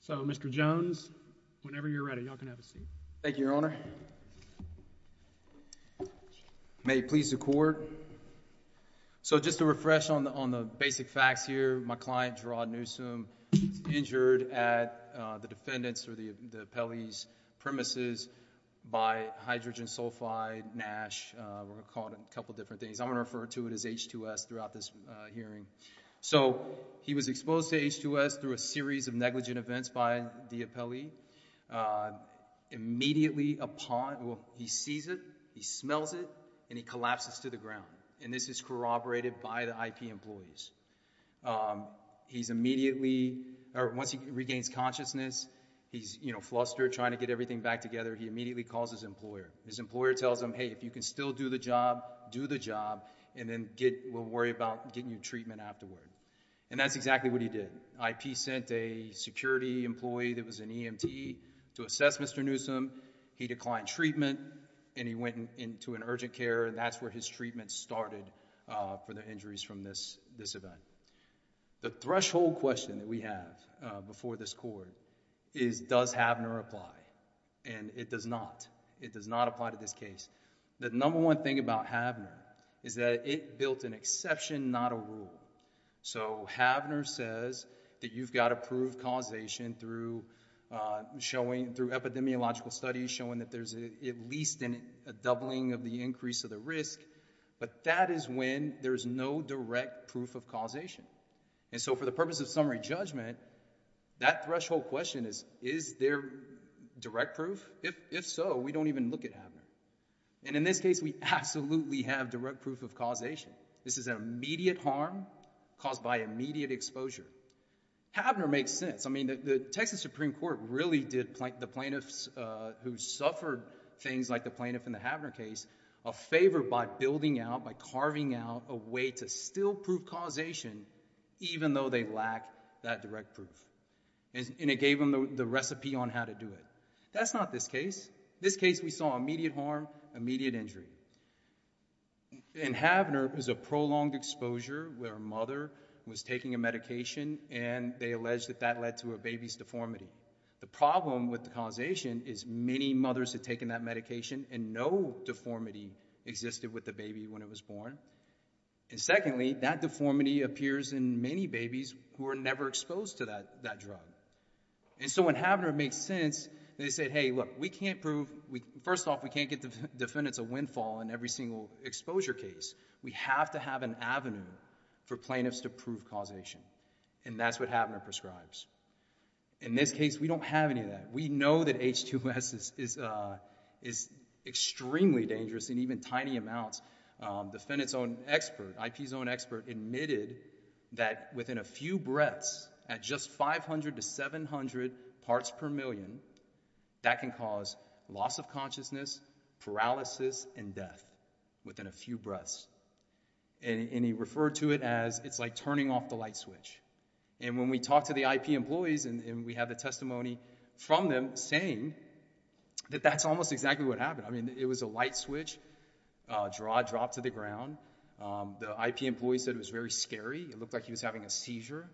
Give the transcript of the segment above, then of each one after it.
So, Mr. Jones, whenever you're ready, y'all can have a seat. Thank you, your Honor. May it please the Court. So, just to refresh on the on the basic facts here, my client, Gerard Newsome, was injured at the defendant's or the appellee's premises by hydrogen sulfide, NASH, we're gonna call it a couple different things. I'm gonna refer to it as H2S throughout this hearing. So, he was exposed to H2S through a series of negligent events by the appellee. Immediately upon, well, he sees it, he smells it, and he collapses to the ground. And this is corroborated by the IP employees. He's immediately, or once he regains consciousness, he's, you know, flustered trying to get everything back together, he immediately calls his employer. His employer tells him, hey, if you can still do the job, do the job, and then we'll worry about getting you treatment afterward. And that's exactly what he did. IP sent a security employee that was an EMT to assess Mr. Newsome. He declined treatment, and he went into an urgent care, and that's where his treatment started for the injuries from this event. The threshold question that we have before this court is, does HAVNR apply? And it does not. It does not apply to this case. The number one thing about HAVNR is that it built an exception, not a rule. So, HAVNR says that you've got approved causation through epidemiological studies showing that there's at least a doubling of the increase of the risk, but that is when there's no direct proof of causation. And in our judgment, that threshold question is, is there direct proof? If so, we don't even look at HAVNR. And in this case, we absolutely have direct proof of causation. This is an immediate harm caused by immediate exposure. HAVNR makes sense. I mean, the Texas Supreme Court really did the plaintiffs who suffered things like the plaintiff in the HAVNR case a favor by building out, by carving out a way to still prove causation even though they lack that direct proof. And it gave them the recipe on how to do it. That's not this case. This case, we saw immediate harm, immediate injury. In HAVNR, there was a prolonged exposure where a mother was taking a medication and they alleged that that led to a baby's deformity. The problem with the causation is many mothers had taken that medication and no deformity existed with the baby when it was born. And secondly, that deformity appears in many babies who were never exposed to that drug. And so when HAVNR made sense, they said, hey, look, we can't prove, first off, we can't give the defendants a windfall in every single exposure case. We have to have an avenue for plaintiffs to prove causation. And that's what HAVNR prescribes. In this case, we don't have any of that. We know that H2S is extremely dangerous in even tiny amounts. The defendant's own expert, IP's own expert, admitted that within a few breaths at just 500 to 700 parts per million, that can cause loss of consciousness, paralysis, and death within a few breaths. And he referred to it as it's like turning off the light switch. And when we talked to the IP employees, and we have the testimony from them saying that that's almost exactly what happened. I mean, it was a light switch, drop to the ground. The IP employee said it was very scary. It looked like he was having a seizure.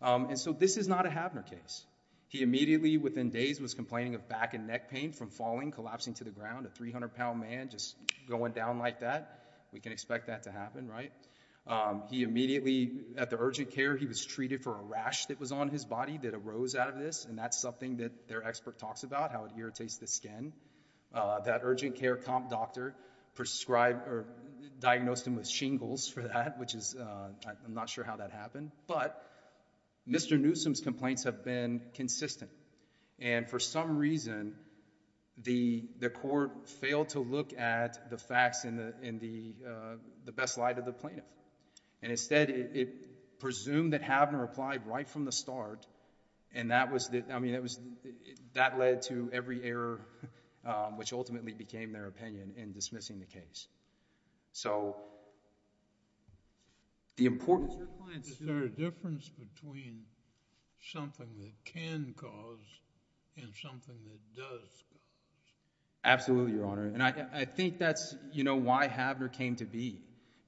And so this is not a HAVNR case. He immediately, within days, was complaining of back and neck pain from falling, collapsing to the ground. A 300-pound man just going down like that. We can expect that to happen, right? He was treated for a rash that was on his body that arose out of this. And that's something that their expert talks about, how it irritates the skin. That urgent care comp doctor prescribed, or diagnosed him with shingles for that, which is, I'm not sure how that happened. But Mr. Newsom's complaints have been consistent. And for some reason, the court failed to look at the facts in the best light of the plaintiff. And instead, it presumed that HAVNR applied right from the start, and that was... I mean, that led to every error which ultimately became their opinion in dismissing the case. So, the important... Is there a difference between something that can cause and something that does cause? Absolutely, Your Honor. And I think that's, you know, why HAVNR came to be.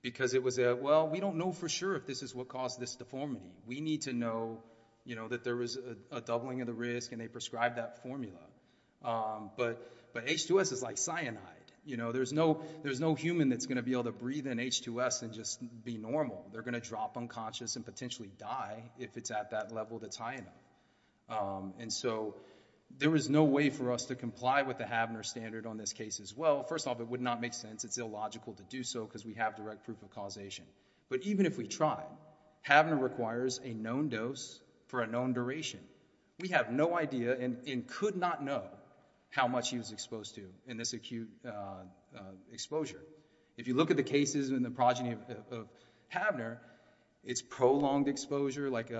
Because it was a, well, we don't know for sure if this is what caused this deformity. We need to know, you know, that there was a doubling of the risk and they prescribed that formula. But H2S is like cyanide. You know, there's no human that's going to be able to breathe in H2S and just be normal. They're going to drop unconscious and potentially die if it's at that level that's high enough. And so, there is no way for us to comply with the HAVNR standard on this case as well. First off, it would not make sense. It's illogical to do so, because we have direct proof of causation. But even if we try, HAVNR requires a known dose for a known duration. We have no idea and could not know how much he was exposed to in this acute exposure. If you look at the cases in the progeny of HAVNR, it's prolonged exposure. Like,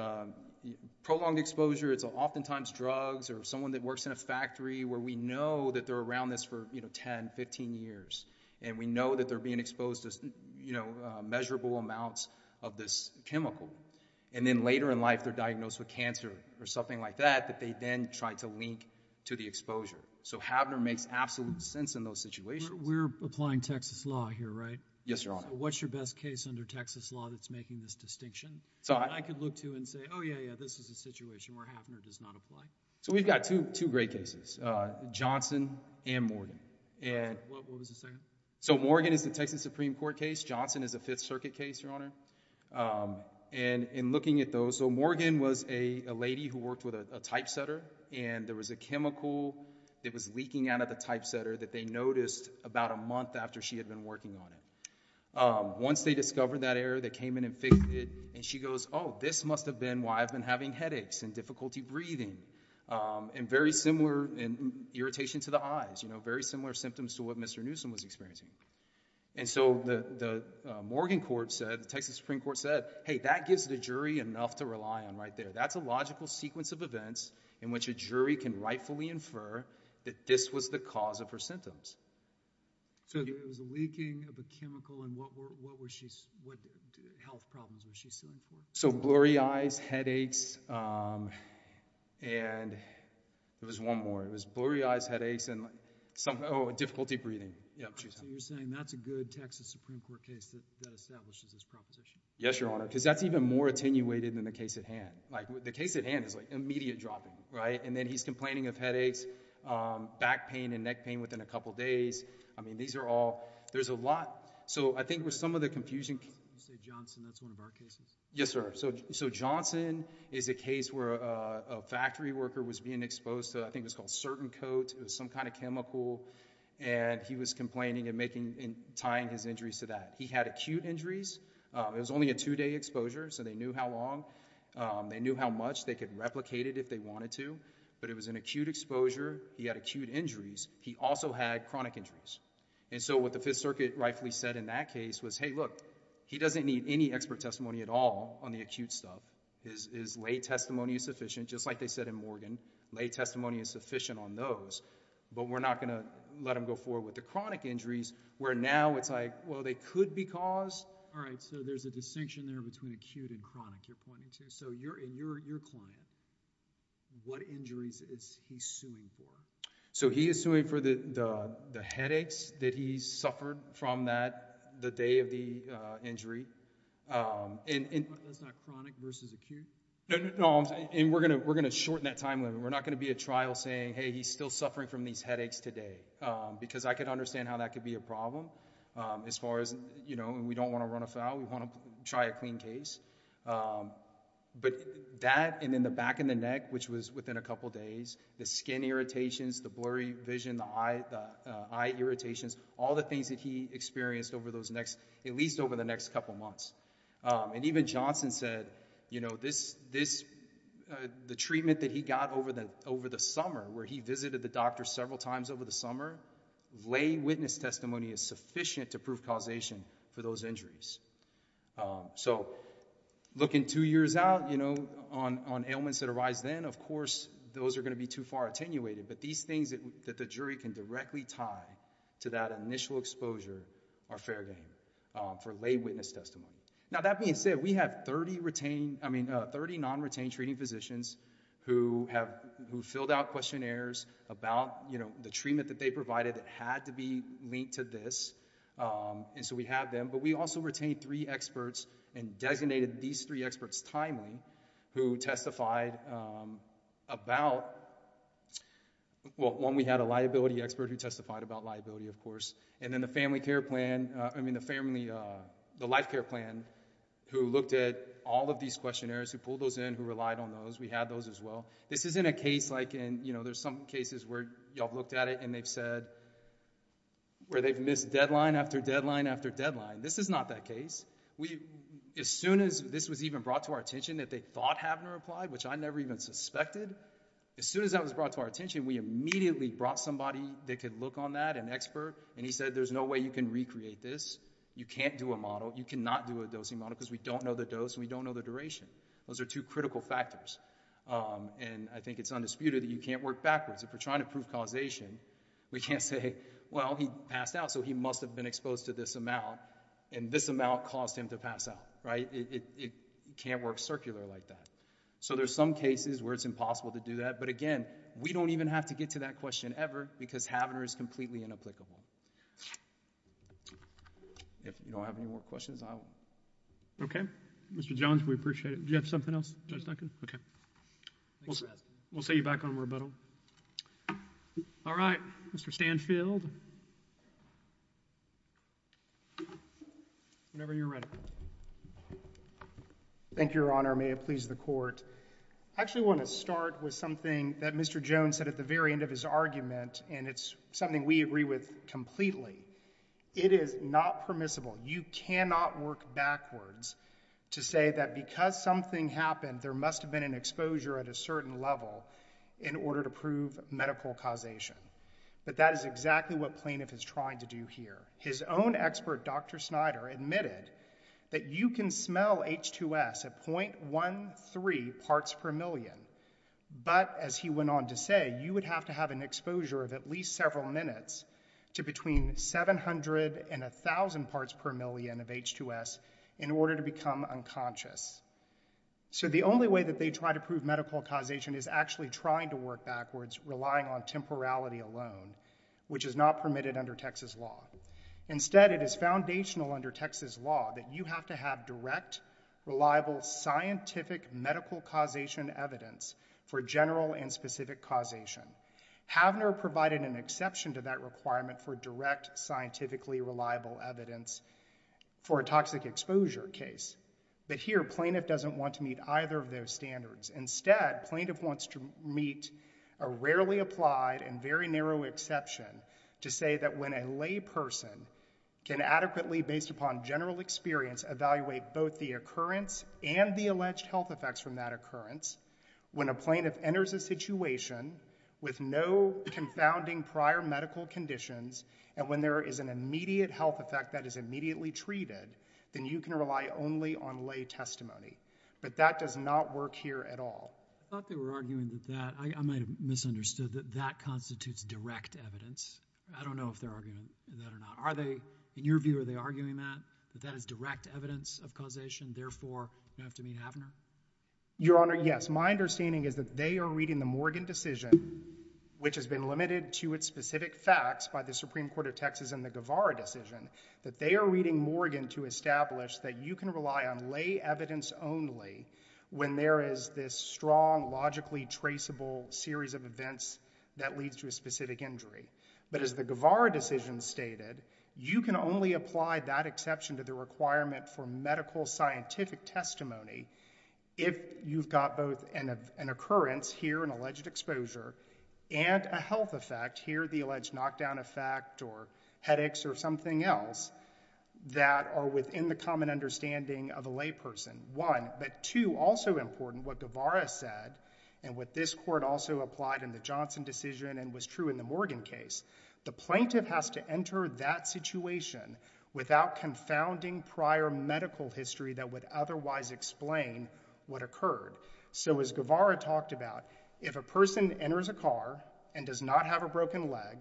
prolonged exposure, it's oftentimes drugs or someone that works in a factory where we know that they're around us for, you know, 10, 15 years. And we know that they're being exposed to, you know, measurable amounts of this chemical. And then, later in life, they're diagnosed with cancer or something like that, that they then try to link to the exposure. So, HAVNR makes absolute sense in those situations. We're applying Texas law here, right? Yes, Your Honor. So, what's your best case under Texas law that's making this distinction? So, I could look to and say, oh, yeah, yeah, this is a situation where HAVNR does not apply. So, we've got two great cases, Johnson and Morgan. What was the second? So, Morgan is the Texas Supreme Court case. Johnson is a Fifth Circuit case, Your Honor. And in looking at those, so Morgan was a lady who worked with a typesetter and there was a chemical that was leaking out of the typesetter that they noticed about a month after she had been working on it. Once they discovered that error, they came in and fixed it. And she goes, oh, this must have been why I've been having headaches and difficulty breathing. And very similar irritation to the eyes, you know, very similar symptoms to what Mr. Newsom was experiencing. And so, the Morgan court said, the Texas Supreme Court said, hey, that gives the jury enough to rely on right there. That's a logical sequence of events in which a jury can rightfully infer that this was the cause of her So, it was a leaking of a chemical and what health problems was she suing for? So, blurry eyes, headaches, and there was one more. It was blurry eyes, headaches, and some, oh, difficulty breathing. So, you're saying that's a good Texas Supreme Court case that establishes this proposition? Yes, Your Honor. Because that's even more attenuated than the case at hand. Like, the case at hand is like immediate dropping, right? And then he's complaining of headaches, back pain and neck pain within a couple days. I mean, these are all, there's a lot. So, I think with some of the confusion... You say Johnson, that's one of our cases? Yes, sir. So, Johnson is a case where a factory worker was being exposed to, I think it was called certain coat. It was some kind of chemical, and he was complaining and making, and tying his injuries to that. He had acute injuries. It was only a two-day exposure, so they knew how long. They knew how much. They could replicate it if they wanted to, but it was an acute exposure. He had acute injuries. He also had chronic injuries. And so, what the Fifth Circuit rightfully said in that case was, hey, look, he doesn't need any expert testimony at all on the acute stuff. His lay testimony is sufficient, just like they said in Morgan. Lay testimony is sufficient on those, but we're not going to let him go forward with the chronic injuries, where now it's like, well, they could be caused. All right. So, there's a distinction there between acute and chronic, you're pointing to. So, in your client, what injuries is he suing for? So, he is suing for the headaches that he suffered from that, the day of the injury. And we're going to shorten that time limit. We're not going to be a trial saying, hey, he's still suffering from these headaches today, because I could understand how that could be a problem, as far as, you know, we don't want to run afoul. We want to try a clean case, but that, and then the back of the neck, which was within a couple days, the skin irritations, the blurry vision, the eye irritations, all the things that he experienced over those next, at least over the next couple months. And even Johnson said, you know, this, the treatment that he got over the summer, where he visited the doctor several times over the summer, lay witness testimony is sufficient to prove causation for those injuries. So, looking two years out, you know, on ailments that arise then, of course, those are going to be too far attenuated, but these things that the jury can directly tie to that initial exposure are fair game for lay witness testimony. Now, that being said, we have 30 retained, I mean, 30 non-retained treating physicians who have, who filled out questionnaires about, you know, the treatment that they provided that had to be linked to this. And so, we have them, but we also retain three experts and designated these three experts timely who testified about, well, one, we had a liability expert who testified about liability, of course, and then the family care plan, I mean, the family, the life care plan, who looked at all of these questionnaires, who pulled those in, who relied on those, we had those as well. This isn't a case like in, you know, there's some cases where y'all looked at it and they've said, where they've missed deadline after deadline after deadline. This is not that case. We, as soon as this was even brought to our attention that they thought Havner applied, which I never even suspected, as soon as that was brought to our attention, we immediately brought somebody that could look on that, an expert, and he said there's no way you can recreate this. You can't do a model. You cannot do a dosing model because we don't know the dose and we don't know the duration. Those are two critical factors, and I think it's undisputed that you can't work backwards. If we're trying to prove causation, we can't say, well, he passed out, so he must have been exposed to this amount, and this amount caused him to pass out, right? It can't work circular like that. So there's some cases where it's impossible to do that, but again, we don't even have to get to that question ever because Havner is completely inapplicable. If you don't have any more questions, I will... Okay. Mr. Jones, we appreciate it. Do you have something else, Judge Duncan? Okay. We'll see you back on rebuttal. All right. Mr. Stanfield, whenever you're ready. Thank you, Your Honor. May it please the Court. I actually want to start with something that Mr. Jones said at the very end of his argument, and it's something we agree with completely. It is not permissible. You cannot work backwards to say that because something happened, there must have been an exposure at a certain level in order to prove medical causation, but that is exactly what Plaintiff is trying to do here. His own expert, Dr. Snyder, admitted that you can smell H2S at .13 parts per million, but as he went on to say, you would have to have an exposure of at least several minutes to between 700 and 1,000 parts per million of H2S in order to become unconscious. So the only way that they try to prove medical causation is actually trying to work backwards, relying on temporality alone, which is not permitted under Texas law. Instead, it is foundational under Texas law that you have to have direct, reliable, scientific medical causation evidence for general and specific causation. Havner provided an exception to that requirement for direct, scientifically reliable evidence for a toxic exposure case, but here Plaintiff doesn't want to meet either of those standards. Instead, Plaintiff wants to meet a rarely applied and very narrow exception to say that when a lay person can adequately, based upon general experience, evaluate both the occurrence and the alleged health effects from that occurrence, when a plaintiff enters a situation with no confounding prior medical conditions, and when there is an immediate health effect that is immediately treated, then you can rely only on lay testimony. But that does not work here at all. I thought they were arguing that that, I might have misunderstood, that that constitutes direct evidence. I don't know if they're arguing that or not. Are they, in your view, are they You have to meet Havner? Your Honor, yes. My understanding is that they are reading the Morgan decision, which has been limited to its specific facts by the Supreme Court of Texas and the Guevara decision, that they are reading Morgan to establish that you can rely on lay evidence only when there is this strong, logically traceable series of events that leads to a specific injury. But as the Guevara decision stated, you can only apply that exception to the requirement for medical scientific testimony if you've got both an occurrence here, an alleged exposure, and a health effect, here the alleged knockdown effect or headaches or something else, that are within the common understanding of a lay person, one. But two, also important, what Guevara said, and what this Court also applied in the Johnson decision and was true in the Morgan case, the plaintiff has to enter that situation without confounding prior medical history that would otherwise explain what occurred. So as Guevara talked about, if a person enters a car and does not have a broken leg,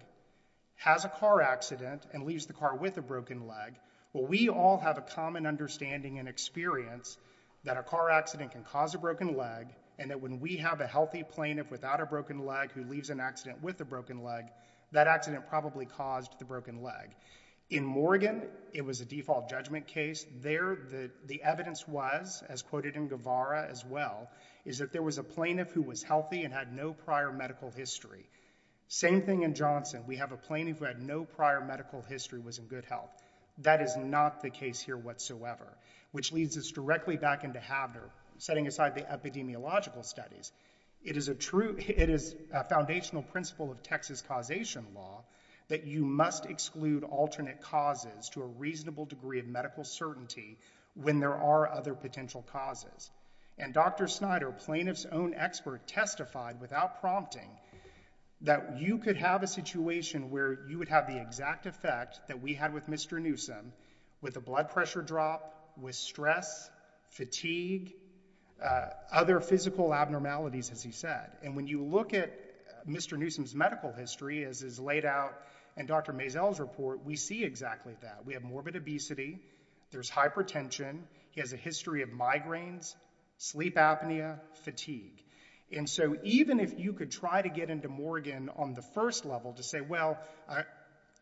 has a car accident and leaves the car with a broken leg, well, we all have a common understanding and experience that a car accident can cause a broken leg, and that when we have a healthy plaintiff without a broken leg who leaves an accident with a broken leg, that accident probably caused the broken leg. In Morgan, it was a default judgment case. There, the evidence was, as quoted in Guevara as well, is that there was a plaintiff who was healthy and had no prior medical history. Same thing in Johnson. We have a plaintiff who had no prior medical history, was in good health. That is not the case here whatsoever, which leads us directly back into Habner, setting aside the epidemiological studies. It is a foundational principle of Texas causation law that you must exclude alternate causes to a reasonable degree of medical certainty when there are other potential causes. And Dr. Snyder, plaintiff's own expert, testified without prompting that you could have a situation where you would have the exact effect that we had with Mr. Newsom, with a blood pressure drop, with stress, fatigue, other physical abnormalities, as he said. And when you look at Mr. Newsom's medical history as is laid out in Dr. Maisel's report, we see exactly that. We have morbid obesity, there's hypertension, he has a history of migraines, sleep apnea, fatigue. And so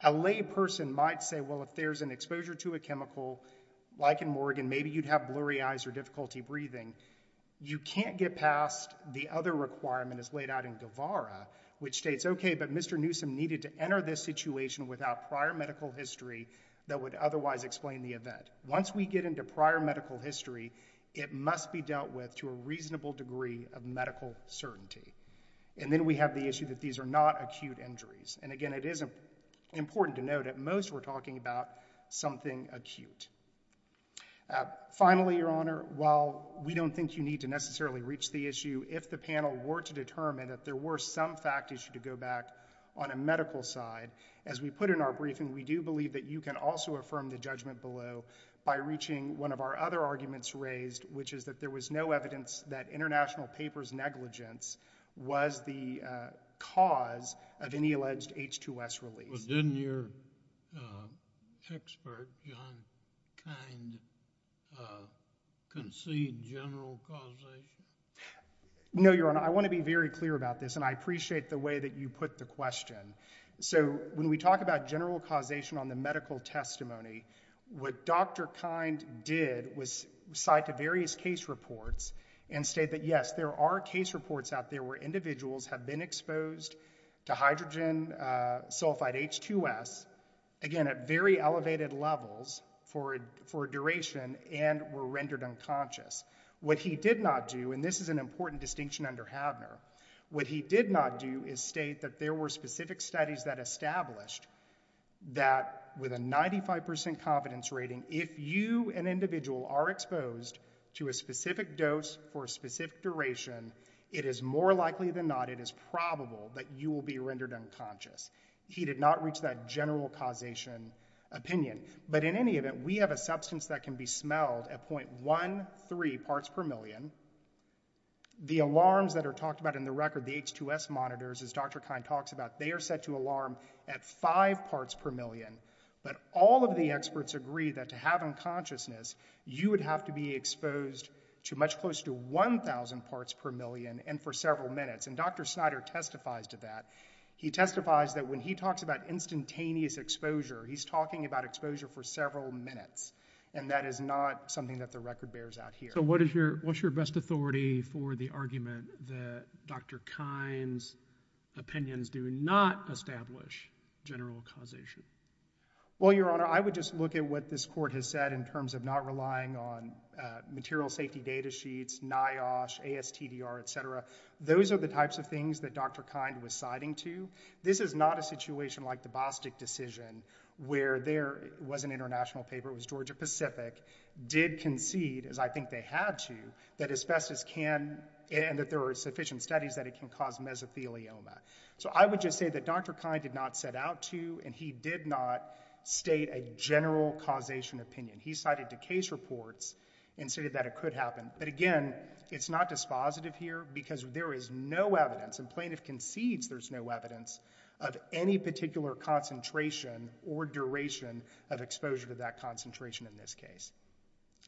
a lay person might say, well, if there's an exposure to a chemical, like in Morgan, maybe you'd have blurry eyes or difficulty breathing. You can't get past the other requirement as laid out in Guevara, which states, okay, but Mr. Newsom needed to enter this situation without prior medical history that would otherwise explain the event. Once we get into prior medical history, it must be dealt with to a reasonable degree of medical certainty. And then we have the issue that these are not acute injuries. And again, it is important to note, at most we're talking about something acute. Finally, Your Honor, while we don't think you need to necessarily reach the issue, if the panel were to determine that there were some fact issue to go back on a medical side, as we put in our briefing, we do believe that you can also affirm the judgment below by reaching one of our other arguments raised, which is that there was no evidence that international papers negligence was the cause of any alleged H2S release. Well, didn't your expert, John Kind, concede general causation? No, Your Honor. I want to be very clear about this, and I appreciate the way that you put the question. So when we talk about general causation on the medical testimony, what Dr. Havner did was take various case reports and state that, yes, there are case reports out there where individuals have been exposed to hydrogen sulfide H2S, again, at very elevated levels for a duration and were rendered unconscious. What he did not do, and this is an important distinction under Havner, what he did not do is state that there were specific studies that established that with a 95% confidence rating, if you, an individual, are exposed to a specific dose for a specific duration, it is more likely than not, it is probable that you will be rendered unconscious. He did not reach that general causation opinion. But in any event, we have a substance that can be smelled at 0.13 parts per million. The alarms that are talked about in the record, the H2S monitors, as Dr. Kind talks about, they are set to alarm at 5 parts per million. But all of the experts agree that to have consciousness, you would have to be exposed to much closer to 1,000 parts per million and for several minutes. And Dr. Snyder testifies to that. He testifies that when he talks about instantaneous exposure, he's talking about exposure for several minutes. And that is not something that the record bears out here. So what is your, what's your best authority for the argument that Dr. Kind's opinions do not establish general causation? Well, Your Honor, I would just look at what this court has said in terms of not relying on material safety data sheets, NIOSH, ASTDR, et cetera. Those are the types of things that Dr. Kind was citing to. This is not a situation like the Bostic decision, where there was an international paper, it was Georgia Pacific, did concede, as I think they had to, that asbestos can, and that there are sufficient studies that it can cause mesothelioma. So I would just say that Dr. Kind did not set out to, and he did not state a general causation opinion. He cited the case reports and stated that it could happen. But again, it's not dispositive here because there is no evidence, and plaintiff concedes there's no evidence of any particular concentration or duration of exposure to that concentration in this case.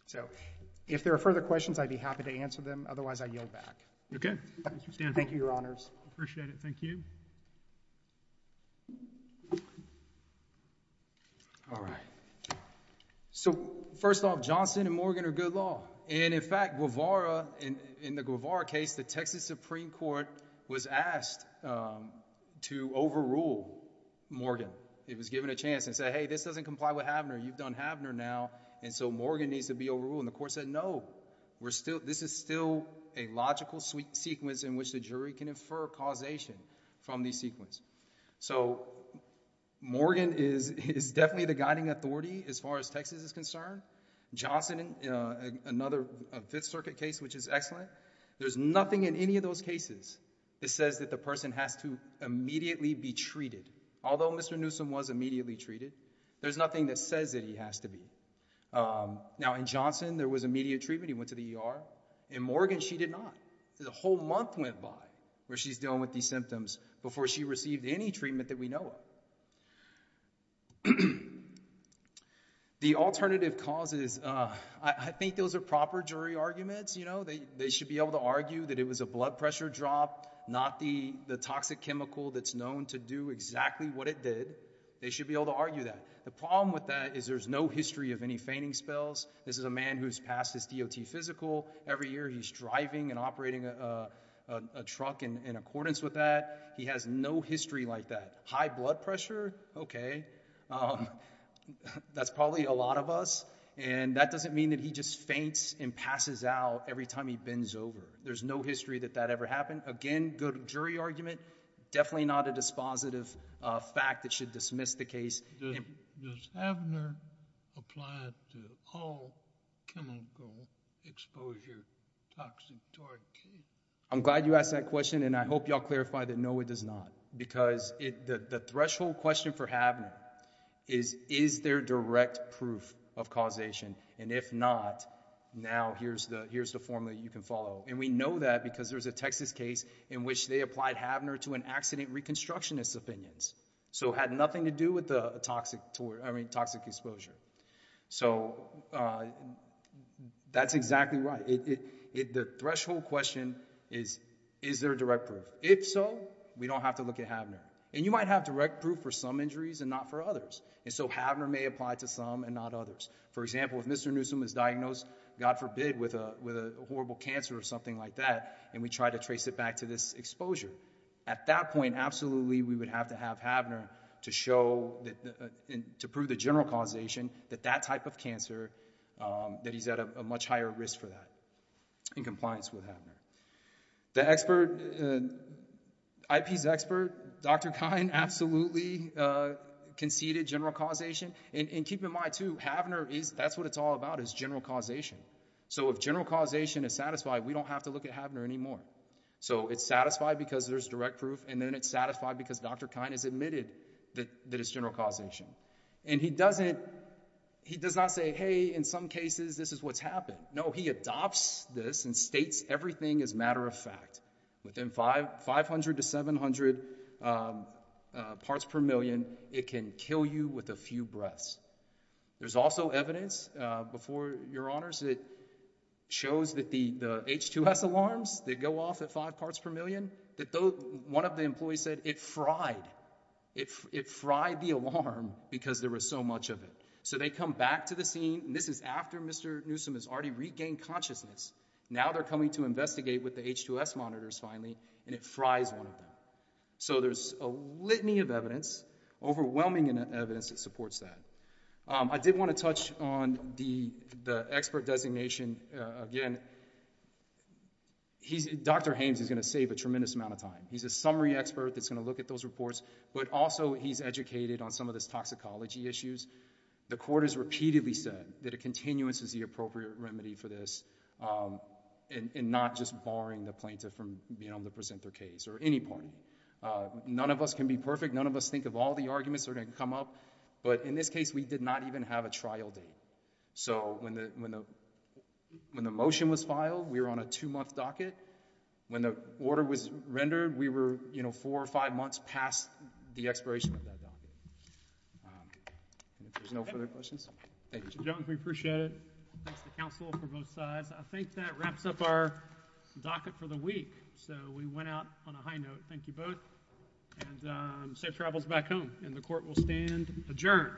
So if there are further questions, I'd be happy to answer them. Otherwise, I yield back. Okay. Thank you, Your Honors. Appreciate it. Thank you. All right. So first off, Johnson and Morgan are good law. And in fact, Guevara, in the Guevara case, the Texas Supreme Court was asked to overrule Morgan. It was given a chance and said, hey, this doesn't comply with Havner. You've done Havner now, and so Morgan needs to be overruled. And the court said, no, this is still a logical sequence in which the jury can infer causation from the sequence. So Morgan is definitely the guiding authority as far as Texas is concerned. Johnson, another Fifth Circuit case which is excellent, there's nothing in any of those cases that says that the person has to immediately be treated. Although Mr. Newsom was immediately treated, there's nothing that says that he has to be. Now in Johnson, there was immediate treatment. He went to the ER. In Morgan, she did not. The whole month went by where she's dealing with these symptoms before she received any treatment that we know of. The alternative causes, I think those are proper jury arguments. They should be able to argue that it was a blood pressure drop, not the toxic chemical that's known to do exactly what it did. They should be able to argue that. The problem with that is there's no history of any feigning spells. This is a man who's passed his DOT physical. Every year, he's driving and operating a truck in accordance with that. He has no history like that. High blood pressure? Okay. That's probably a lot of us. And that doesn't mean that he just faints and passes out every time he bends over. There's no history that that ever happened. Again, good jury argument. Definitely not a dispositive fact that should dismiss the case. Does Havner apply to all chemical exposure toxictory cases? I'm glad you asked that question, and I hope y'all clarify that no, it does not. Because the threshold question for Havner is, is there direct proof of causation? And if not, now here's the formula you can follow. And we know that because there's a Texas case in which they applied Havner to an accident reconstructionist's opinions. So it had nothing to do with the toxic exposure. So that's exactly right. The threshold question is, is there direct proof? If so, we don't have to look at Havner. And you might have direct proof for some injuries and not for others. And so Havner may apply to some and not others. For example, if Mr. Newsom is diagnosed, God forbid, with a horrible cancer or something like that, and we try to trace it back to this exposure. At that point, absolutely, we would have to have Havner to show that, to prove the general causation that that type of cancer, that he's at a much higher risk for that in compliance with Havner. The expert, IP's expert, Dr. Kine absolutely conceded general causation. And keep in mind too, Havner is, that's what it's all about, is general causation. So if general causation is satisfied, we don't have to look at Havner anymore. So it's satisfied because there's direct proof, and then it's satisfied because Dr. Kine has admitted that it's general causation. And he doesn't, he does not say, hey, in some cases, this is what's happened. No, he adopts this and states everything as matter of fact. Within 500 to 700 parts per million, it can kill you with a few breaths. There's also evidence, before your honors, that shows that the H2S alarms that go off at five parts per million, that one of the employees said it fried, it fried the alarm because there was so much of it. So they come back to the scene, and this is after Mr. Newsom has already regained consciousness. Now they're coming to investigate with the H2S monitors finally, and it fries one of them. So there's a litany of evidence, overwhelming evidence that supports that. I did want to touch on the expert designation. Again, Dr. Haynes is going to save a tremendous amount of time. He's a summary expert that's going to look at those reports, but also he's educated on some of this toxicology issues. The court has repeatedly said that a continuance is the appropriate remedy for this, and not just barring the plaintiff from being able to present their case or any party. None of us can be perfect. None of us think of all the arguments that are going to come up, but in this case, we did not even have a trial date. So when the motion was filed, we were on a two-month docket. When the order was rendered, we were four or five months past the expiration of that docket. If there's no further questions, thank you. Jones, we appreciate it. Thanks to counsel for both sides. I think that wraps up our docket for the week. So we went out on a high note. Thank you both, and safe travels back home. And the court will stand adjourned.